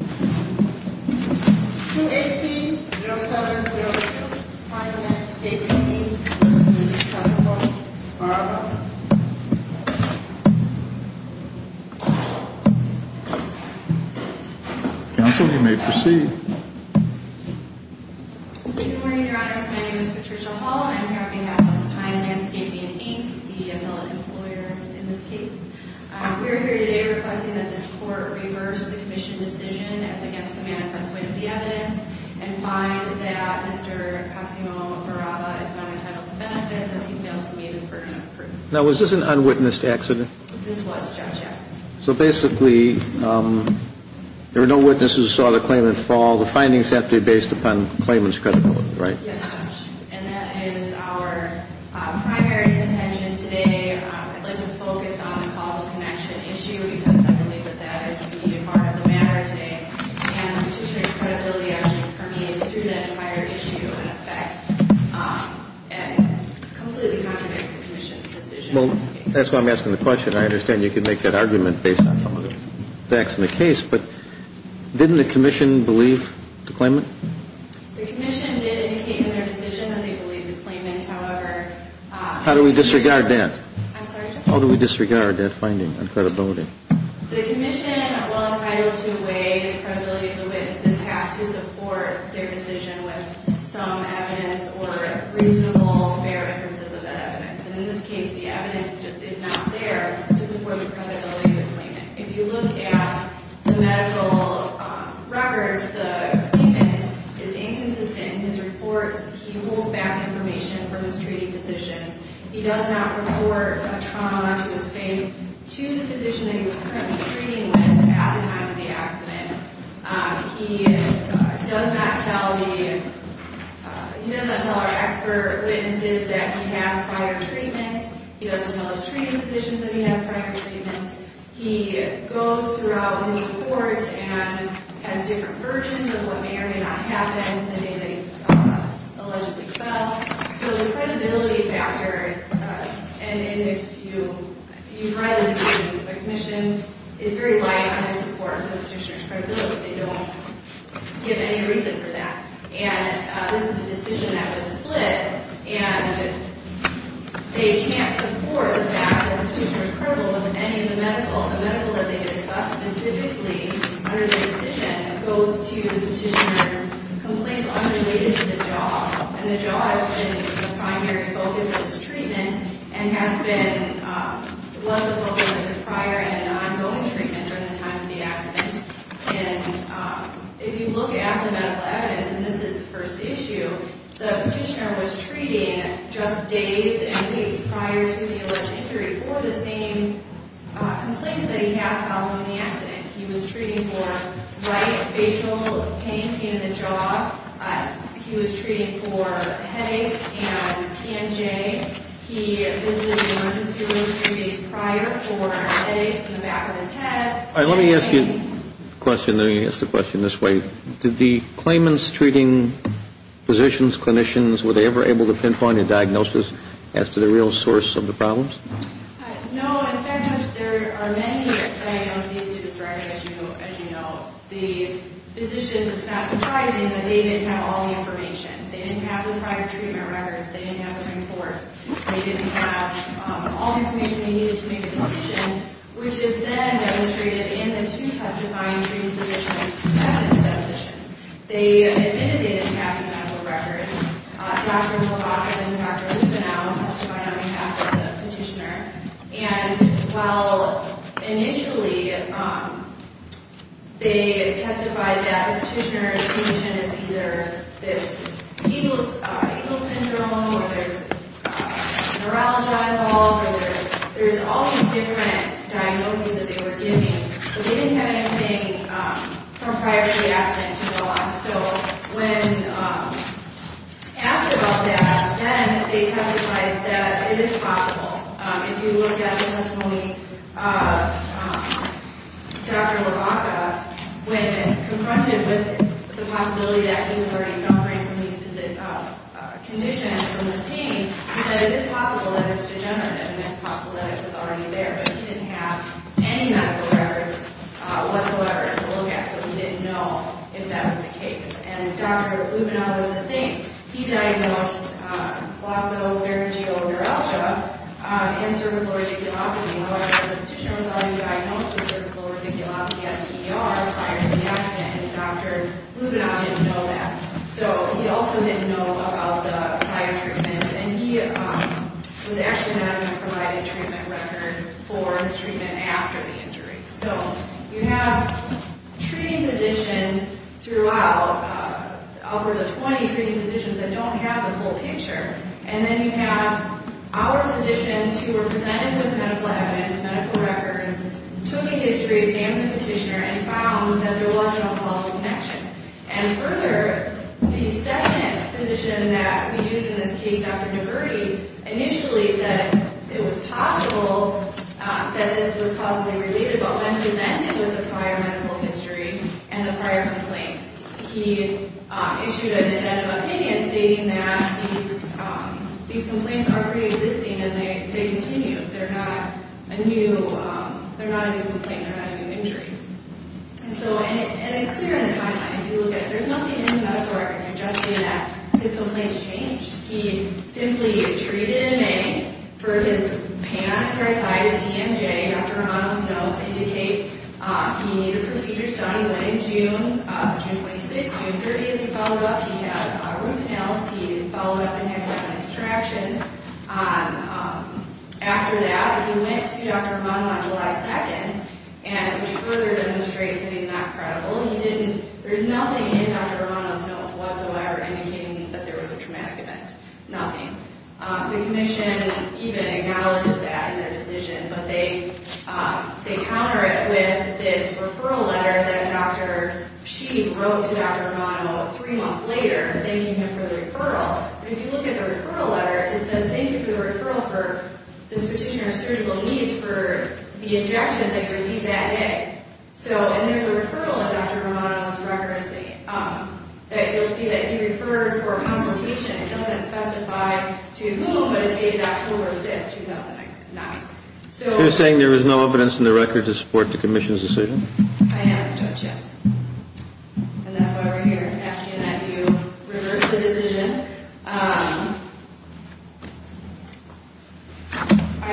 218-0706, Pine Landscaping, Inc. This is the testimony. Good morning, Your Honors. My name is Patricia Hall, and I'm here on behalf of Pine Landscaping, Inc., the embellished employer in this case. We are here today requesting that this Court reverse the Commission decision as against the manifest way of the evidence and find that Mr. Cosimo Barraza is not entitled to benefits as he failed to meet his burden of proof. Now, was this an unwitnessed accident? This was, Judge, yes. So basically, there were no witnesses who saw the claimant fall. The findings have to be based upon the claimant's credibility, right? Yes, Judge. And that is our primary contention today. I'd like to focus on the causal connection issue because I believe that that is the heart of the matter today. And Patricia's credibility actually permeates through that entire issue and affects and completely contradicts the Commission's decision in this case. Well, that's why I'm asking the question. I understand you can make that argument based on some of the facts in the case, but didn't the Commission believe the claimant? The Commission did indicate in their decision that they believed the claimant, however... How do we disregard that? I'm sorry, Judge? How do we disregard that finding of credibility? The Commission, while entitled to weigh the credibility of the witnesses, has to support their decision with some evidence or reasonable, fair inferences of that evidence. And in this case, the evidence just is not there to support the credibility of the claimant. If you look at the medical records, the claimant is inconsistent in his reports. He holds back information from his treating physicians. He does not report a trauma to his face to the physician that he was currently treating with at the time of the accident. He does not tell our expert witnesses that he had prior treatment. He doesn't tell his treating physicians that he had prior treatment. He goes throughout his reports and has different versions of what may or may not have happened the day that he allegedly fell. So the credibility factor, and if you've read the Petition, the Commission is very light on their support of the petitioner's credibility. They don't give any reason for that. And this is a decision that was split, and they can't support the fact that the petitioner is credible with any of the medical. The medical that they discuss specifically under the decision goes to the petitioner's complaints unrelated to the jaw. And the jaw has been the primary focus of his treatment and has been less of a focus of his prior and ongoing treatment during the time of the accident. And if you look at the medical evidence, and this is the first issue, the petitioner was treating just days and weeks prior to the alleged injury for the same complaints that he had following the accident. He was treating for light facial pain in the jaw. He was treating for headaches and TNJ. He visited the emergency room three days prior for headaches in the back of his head. Let me ask you a question. Let me ask the question this way. Did the claimants treating physicians, clinicians, were they ever able to pinpoint a diagnosis as to the real source of the problems? No. In fact, there are many diagnoses to this record, as you know. The physicians, it's not surprising that they didn't have all the information. They didn't have the prior treatment records. They didn't have the reports. They didn't have all the information they needed to make a decision, which is then demonstrated in the two testifying treating physicians' status definitions. They admitted they didn't have his medical record. Dr. Hobock and Dr. Lupenow testified on behalf of the petitioner. And while initially they testified that the petitioner's condition is either this Eagle's Syndrome or there's neuralgia involved or there's all these different diagnoses that they were giving, but they didn't have anything from prior to the accident to go on. So when asked about that, then they testified that it is possible. If you look at the testimony of Dr. Lubaka, when confronted with the possibility that he was already suffering from these conditions, from this pain, he said it is possible that it's degenerative and it's possible that it was already there. But he didn't have any medical records whatsoever to look at, so he didn't know if that was the case. And Dr. Lupenow was the same. He diagnosed glossovagal neuralgia and cervical radiculopathy. However, the petitioner was already diagnosed with cervical radiculopathy at an ER prior to the accident, and Dr. Lupenow didn't know that. So he also didn't know about the prior treatment. And he was actually not even provided treatment records for his treatment after the injury. So you have treating physicians throughout, upwards of 20 treating physicians that don't have the full picture. And then you have our physicians who were presented with medical evidence, medical records, took a history, examined the petitioner, and found that there was an alcohol connection. And further, the second physician that we use in this case, Dr. DiBerti, initially said it was possible that this was causally related, but when presented with the prior medical history and the prior complaints, he issued an addendum opinion stating that these complaints are preexisting and they continue. They're not a new complaint. They're not a new injury. And it's clear in this timeline, if you look at it, there's nothing in the medical records suggesting that his complaints changed. He simply treated in May for his pancreatitis, TMJ. Dr. Romano's notes indicate he needed a procedure done. He went in June, June 26th, June 30th, he followed up. He had root canals. He followed up and had an extraction. After that, he went to Dr. Romano on July 2nd, which further demonstrates that he's not credible. There's nothing in Dr. Romano's notes whatsoever indicating that there was a traumatic event, nothing. The commission even acknowledges that in their decision, but they counter it with this referral letter that she wrote to Dr. Romano three months later thanking him for the referral. If you look at the referral letter, it says thank you for the referral for the substitution of surgical needs for the injections that he received that day. So, and there's a referral in Dr. Romano's record that you'll see that he referred for a consultation. It doesn't specify to whom, but it's dated October 5th, 2009. They're saying there is no evidence in the record to support the commission's decision? I haven't touched, yes. And that's why we're here asking that you reverse the decision. I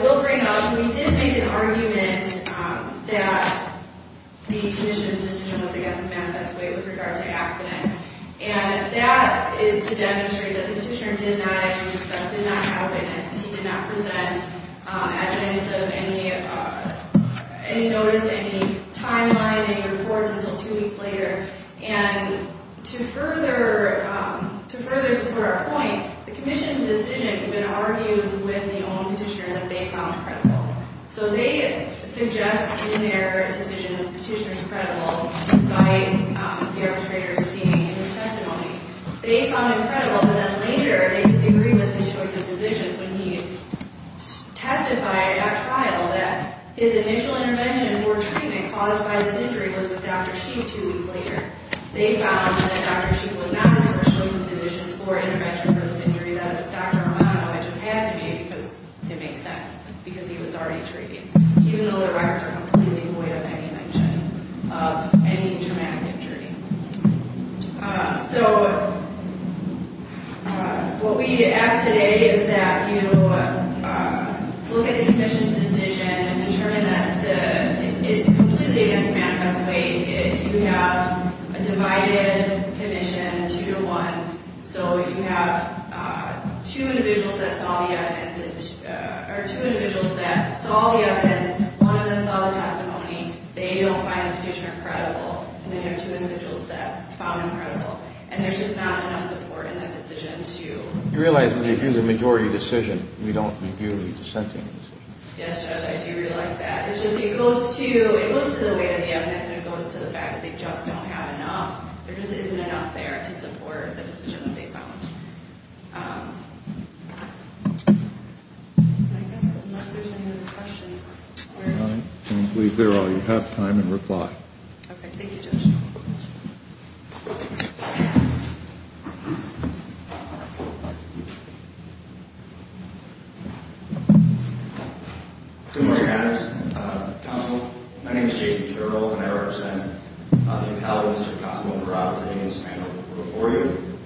will bring up, we did make an argument that the commission's decision was, I guess, a manifest way with regard to accidents. And that is to demonstrate that the petitioner did not, as you discussed, did not have evidence. He did not present evidence of any notice, any timeline, any reports until two weeks later. And to further support our point, the commission's decision even argues with the own petitioner that they found credible. So they suggest in their decision that the petitioner's credible, despite the arbitrator's seeing in his testimony. They found him credible, but then later they disagreed with his choice of physicians when he testified at trial that his initial intervention for treatment caused by this injury was with Dr. Sheik two weeks later. They found that Dr. Sheik was not the source of the physicians for intervention for this injury, that it was Dr. Romano. It just had to be because it makes sense, because he was already treating, even though the records are completely void of any mention of any traumatic injury. So what we ask today is that you look at the commission's decision and determine that the, it's completely against the manifest way. You have a divided commission, two to one. So you have two individuals that saw the evidence, or two individuals that saw the evidence. One of them saw the testimony. They don't find the petitioner credible. And then you have two individuals that found him credible. And there's just not enough support in that decision to. You realize when we view the majority decision, we don't review the dissentings. Yes, Judge, I do realize that. It goes to the weight of the evidence, and it goes to the fact that they just don't have enough. There just isn't enough there to support the decision that they found. I guess unless there's any other questions. I believe there are. You have time to reply. Okay. Thank you, Judge. Thank you, Judge. Good morning, Madam Counsel. My name is J.C. Carroll, and I represent the appellate Mr. Cosimo Barraza, and I stand before you.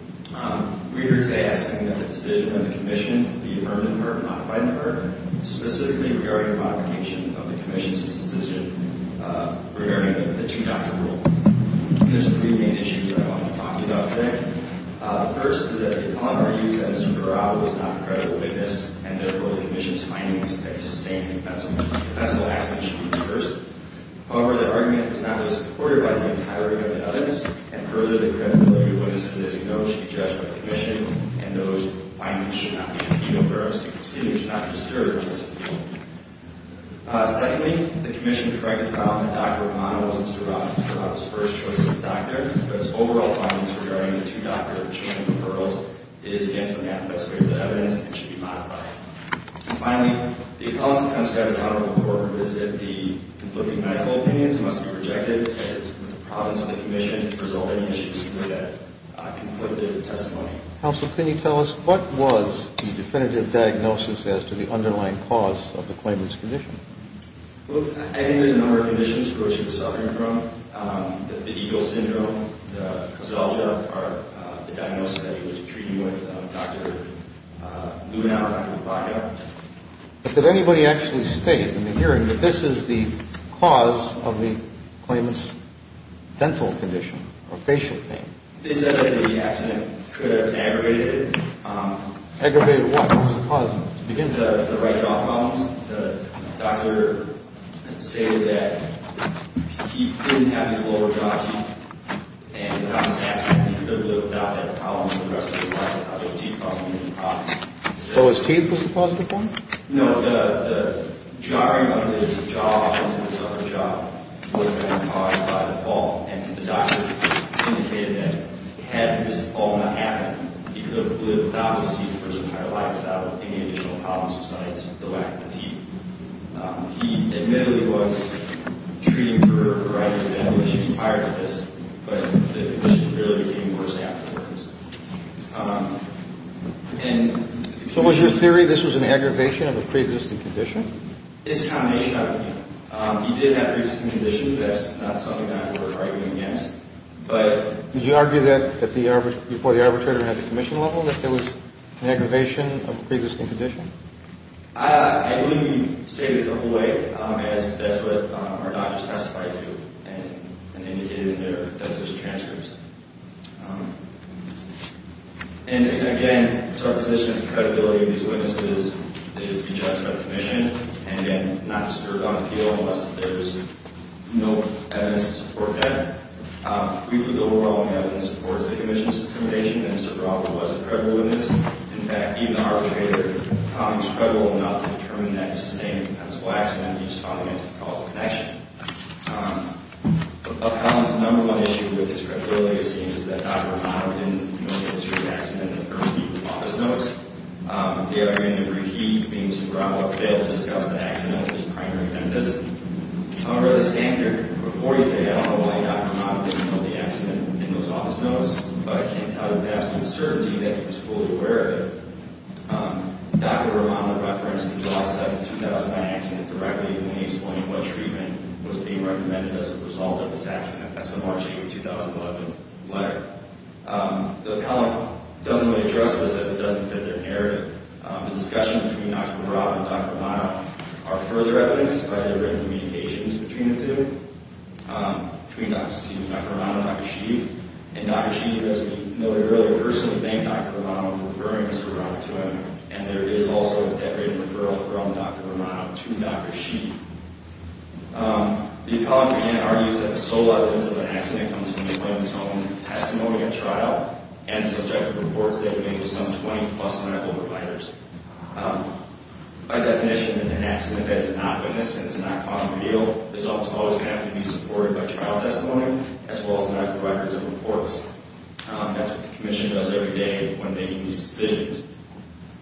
We're here today asking that the decision of the commission be heard and heard, not quite heard, specifically regarding the modification of the commission's decision regarding the two-doctor rule. There's three main issues I want to talk to you about today. The first is that upon our use that Mr. Barraza was not a credible witness, and therefore the commission's findings that he sustained in a defensible action should be reversed. However, that argument is not supported by the entirety of the evidence, and further, the credibility of witnesses is acknowledged to be judged by the commission, and those findings should not be reviewed, or our proceeding should not be discouraged. Secondly, the commission corrected the problem that Dr. O'Connor was Mr. Barraza's first choice of doctor, but its overall findings regarding the two-doctor change in referrals is against what the appellate stated in the evidence and should be modified. Finally, the appellate's attempt to have his honor report revisit the conflicting medical opinions must be rejected because it's from the province of the commission. If there's any issues here, that conflicted testimony. Counsel, can you tell us what was the definitive diagnosis as to the underlying cause of the claimant's condition? Well, I think there's a number of conditions for which he was suffering from, that the EGLE syndrome, the coselta are the diagnosis that he was treating with Dr. Luhnauer and Dr. Baca. But did anybody actually state in the hearing that this is the cause of the claimant's dental condition or facial pain? They said that the accident could have aggravated it. Aggravated what? What was the cause? The right jaw problems. The doctor stated that he didn't have his lower jaw teeth, and on this accident, he could have lived without that problem for the rest of his life without those teeth causing him any problems. Oh, his teeth was the cause of the problem? No, the jarring of his jaw and his upper jaw was caused by the fall, and the doctor indicated that had this fall not happened, he could have lived without his teeth for his entire life without any additional problems besides the lack of teeth. He admittedly was treating for a variety of dental issues prior to this, but the condition really became worse afterwards. So was your theory that this was an aggravation of a pre-existing condition? It's a combination of everything. He did have pre-existing conditions. That's not something that I would argue against, but... Did you argue that before the arbitrator had the commission level, that there was an aggravation of a pre-existing condition? I wouldn't state it the whole way, as that's what our doctors testified to and indicated in their dental history transcripts. And again, it's our position that the credibility of these witnesses is to be judged by the commission, and again, not discerned on appeal unless there's no evidence to support that. Briefly, the overwhelming evidence supports the commission's determination that Mr. Crawford was a credible witness. In fact, even the arbitrator was credible enough to determine that it was the same incompensable accident that he was found to have caused the connection. Upcoming is the number one issue with his credibility, it seems, is that Dr. Rahama didn't know the history of the accident in the first few office notes. The other hand, I believe he, being super outfitted, discussed the accident in his primary tenders. However, as a standard, before he failed, I don't know why Dr. Rahama didn't know the accident in those office notes, but I can tell you that I have some certainty that he was fully aware of it. Dr. Rahama referenced the July 7, 2009 accident directly, and he explained what treatment was being recommended as a result of this accident. That's the March 8, 2011 letter. The column doesn't really address this as it doesn't fit their narrative. The discussion between Dr. Rahama and Dr. Rahama are further evidenced by their written communications between the two, between Dr. Rahama and Dr. Sheehan. And Dr. Sheehan, as we noted earlier, personally thanked Dr. Rahama for referring Mr. Rahama to him. And there is also a decorated referral from Dr. Rahama to Dr. Sheehan. The column again argues that the sole evidence of an accident comes from the witness's own testimony at trial and the subjective reports they have made to some 20-plus medical providers. By definition, an accident that is not witnessed and is not caught on video is almost always going to have to be supported by trial testimony, as well as medical records and reports. That's what the Commission does every day when making these decisions.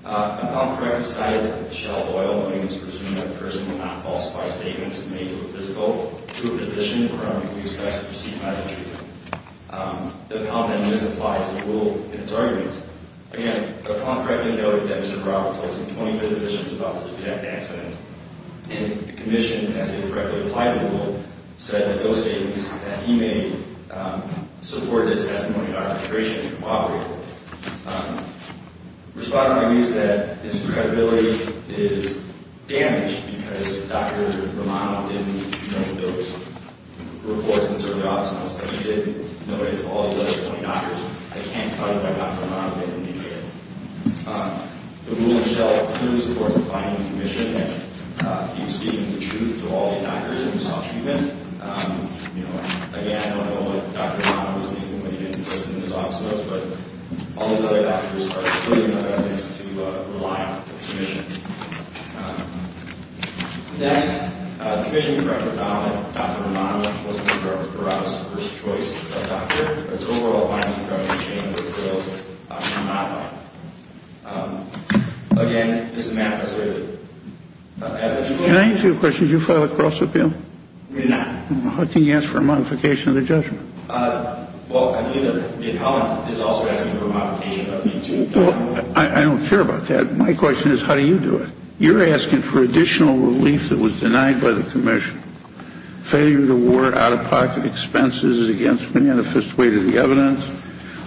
A column for record cited that Michelle Doyle, when it was presumed that the person would not falsify statements made to a physical, threw a physician in front of a police officer to proceed by the treatment. The column then misapplies the rule in its arguments. Again, the column correctly noted that Mr. Rahama told some 25 physicians about this abject accident, and the Commission, as they correctly applied the rule, said that those statements that he made supported his testimony to Dr. Sheehan to corroborate. Respondent argues that his credibility is damaged because Dr. Rahama didn't know those reports, and so he obviously knows what he did. He knows what he did to all the other 20 doctors. I can't tell you why Dr. Rahama didn't do it. The rule in itself clearly supports the finding of the Commission. He was speaking the truth to all these doctors when he saw treatment. Again, I don't know what Dr. Rahama was thinking when he didn't listen to his opposites, but all these other doctors are clearly not going to be able to rely on the Commission. Next, the Commission corrected Rahama. Dr. Rahama wasn't the first choice of doctor. It's overall harm to Dr. Sheehan that the bills come out on him. Again, this is a manifesto. Can I ask you a question? Did you file a cross-appeal? I did not. How can you ask for a modification of the judgment? Well, I believe that the column is also asking for a modification of the judgment. Well, I don't care about that. My question is, how do you do it? You're asking for additional relief that was denied by the Commission. Failure to award out-of-pocket expenses is against the manifest weight of the evidence.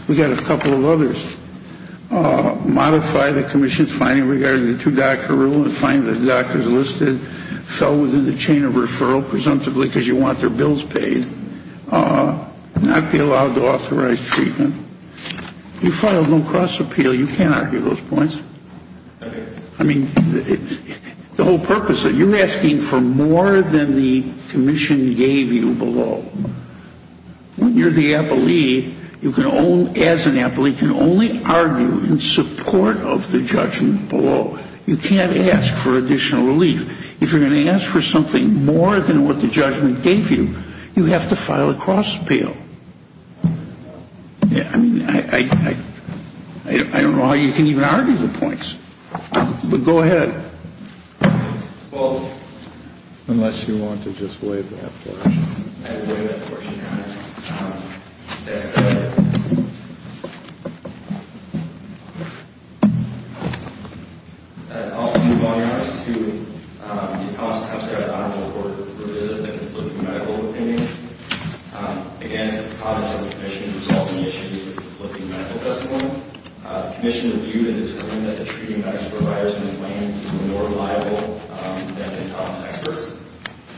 We've got a couple of others. Modify the Commission's finding regarding the two-doctor rule and find that the doctors listed fell within the chain of referral, presumptively because you want their bills paid. Not be allowed to authorize treatment. You filed no cross-appeal. You can't argue those points. I mean, the whole purpose of it, you're asking for more than the Commission gave you below. When you're the appellee, you can only, as an appellee, can only argue in support of the judgment below. You can't ask for additional relief. If you're going to ask for something more than what the judgment gave you, you have to file a cross-appeal. Yeah, I mean, I don't know how you can even argue the points. But go ahead. Well, unless you want to just waive that portion. I will waive that portion, Your Honors. That said, I'll move on, Your Honors, to the Appellant's Times-Graduate Honorable Court revisit of the conflicting medical opinions. Again, it's the promise of the Commission to resolve any issues with conflicting medical testimony. The Commission reviewed and determined that the treating medical providers in the claim were more reliable than the appellant's experts.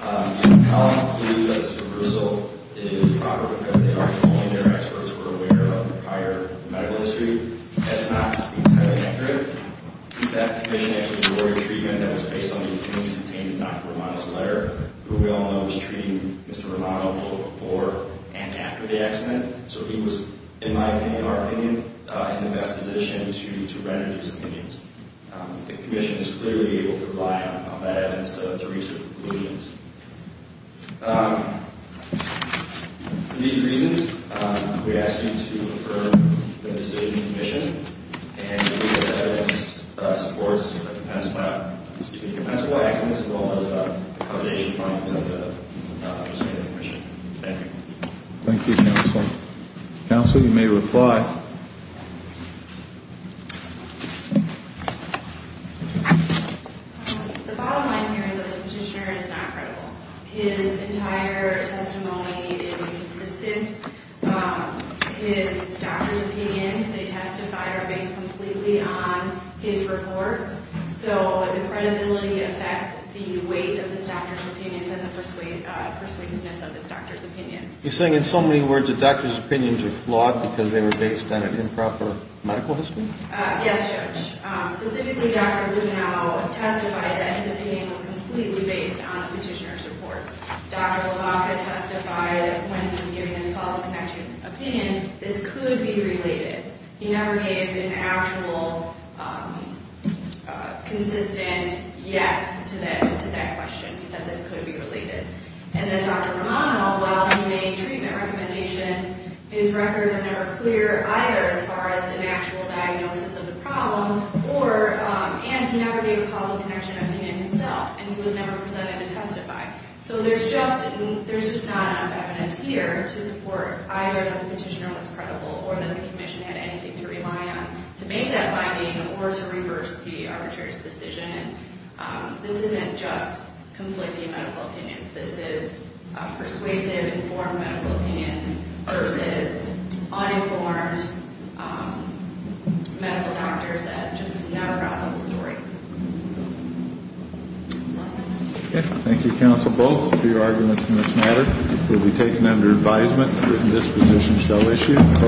The appellant believes that this reversal is proper because they argued that only their experts were aware of the prior medical history. That's not to be entirely accurate. In fact, the Commission actually awarded treatment that was based on the opinions contained in Dr. Romano's letter, who we all know was treating Mr. Romano both before and after the accident. So he was, in my opinion, our opinion, in the best position to render these opinions. The Commission is clearly able to rely on that evidence to reach a conclusion. For these reasons, we ask you to affirm the decision of the Commission and to believe that the evidence supports the compensable accidents as well as the causation findings of the outstanding Commission. Thank you. Thank you, Counsel. Counsel, you may reply. The bottom line here is that the Petitioner is not credible. His entire testimony is inconsistent. His doctor's opinions, they testify, are based completely on his reports. So the credibility affects the weight of his doctor's opinions and the persuasiveness of his doctor's opinions. You're saying in so many words that doctor's opinions are flawed because they were based on an improper medical history? Yes, Judge. Specifically, Dr. Romano testified that his opinion was completely based on the Petitioner's reports. Dr. Labaca testified that when he was giving his causal connection opinion, this could be related. He never gave an actual consistent yes to that question. He said this could be related. And then Dr. Romano, while he made treatment recommendations, his records are never clear either as far as an actual diagnosis of the problem and he never gave a causal connection opinion himself and he was never presented to testify. So there's just not enough evidence here to support either that the Petitioner was credible or that the Commission had anything to rely on to make that finding or to reverse the arbitrator's decision. This isn't just conflicting medical opinions. This is persuasive, informed medical opinions versus uninformed medical doctors that just never brought up the story. Okay. Thank you, counsel, both, for your arguments in this matter. It will be taken under advisement that this position shall issue.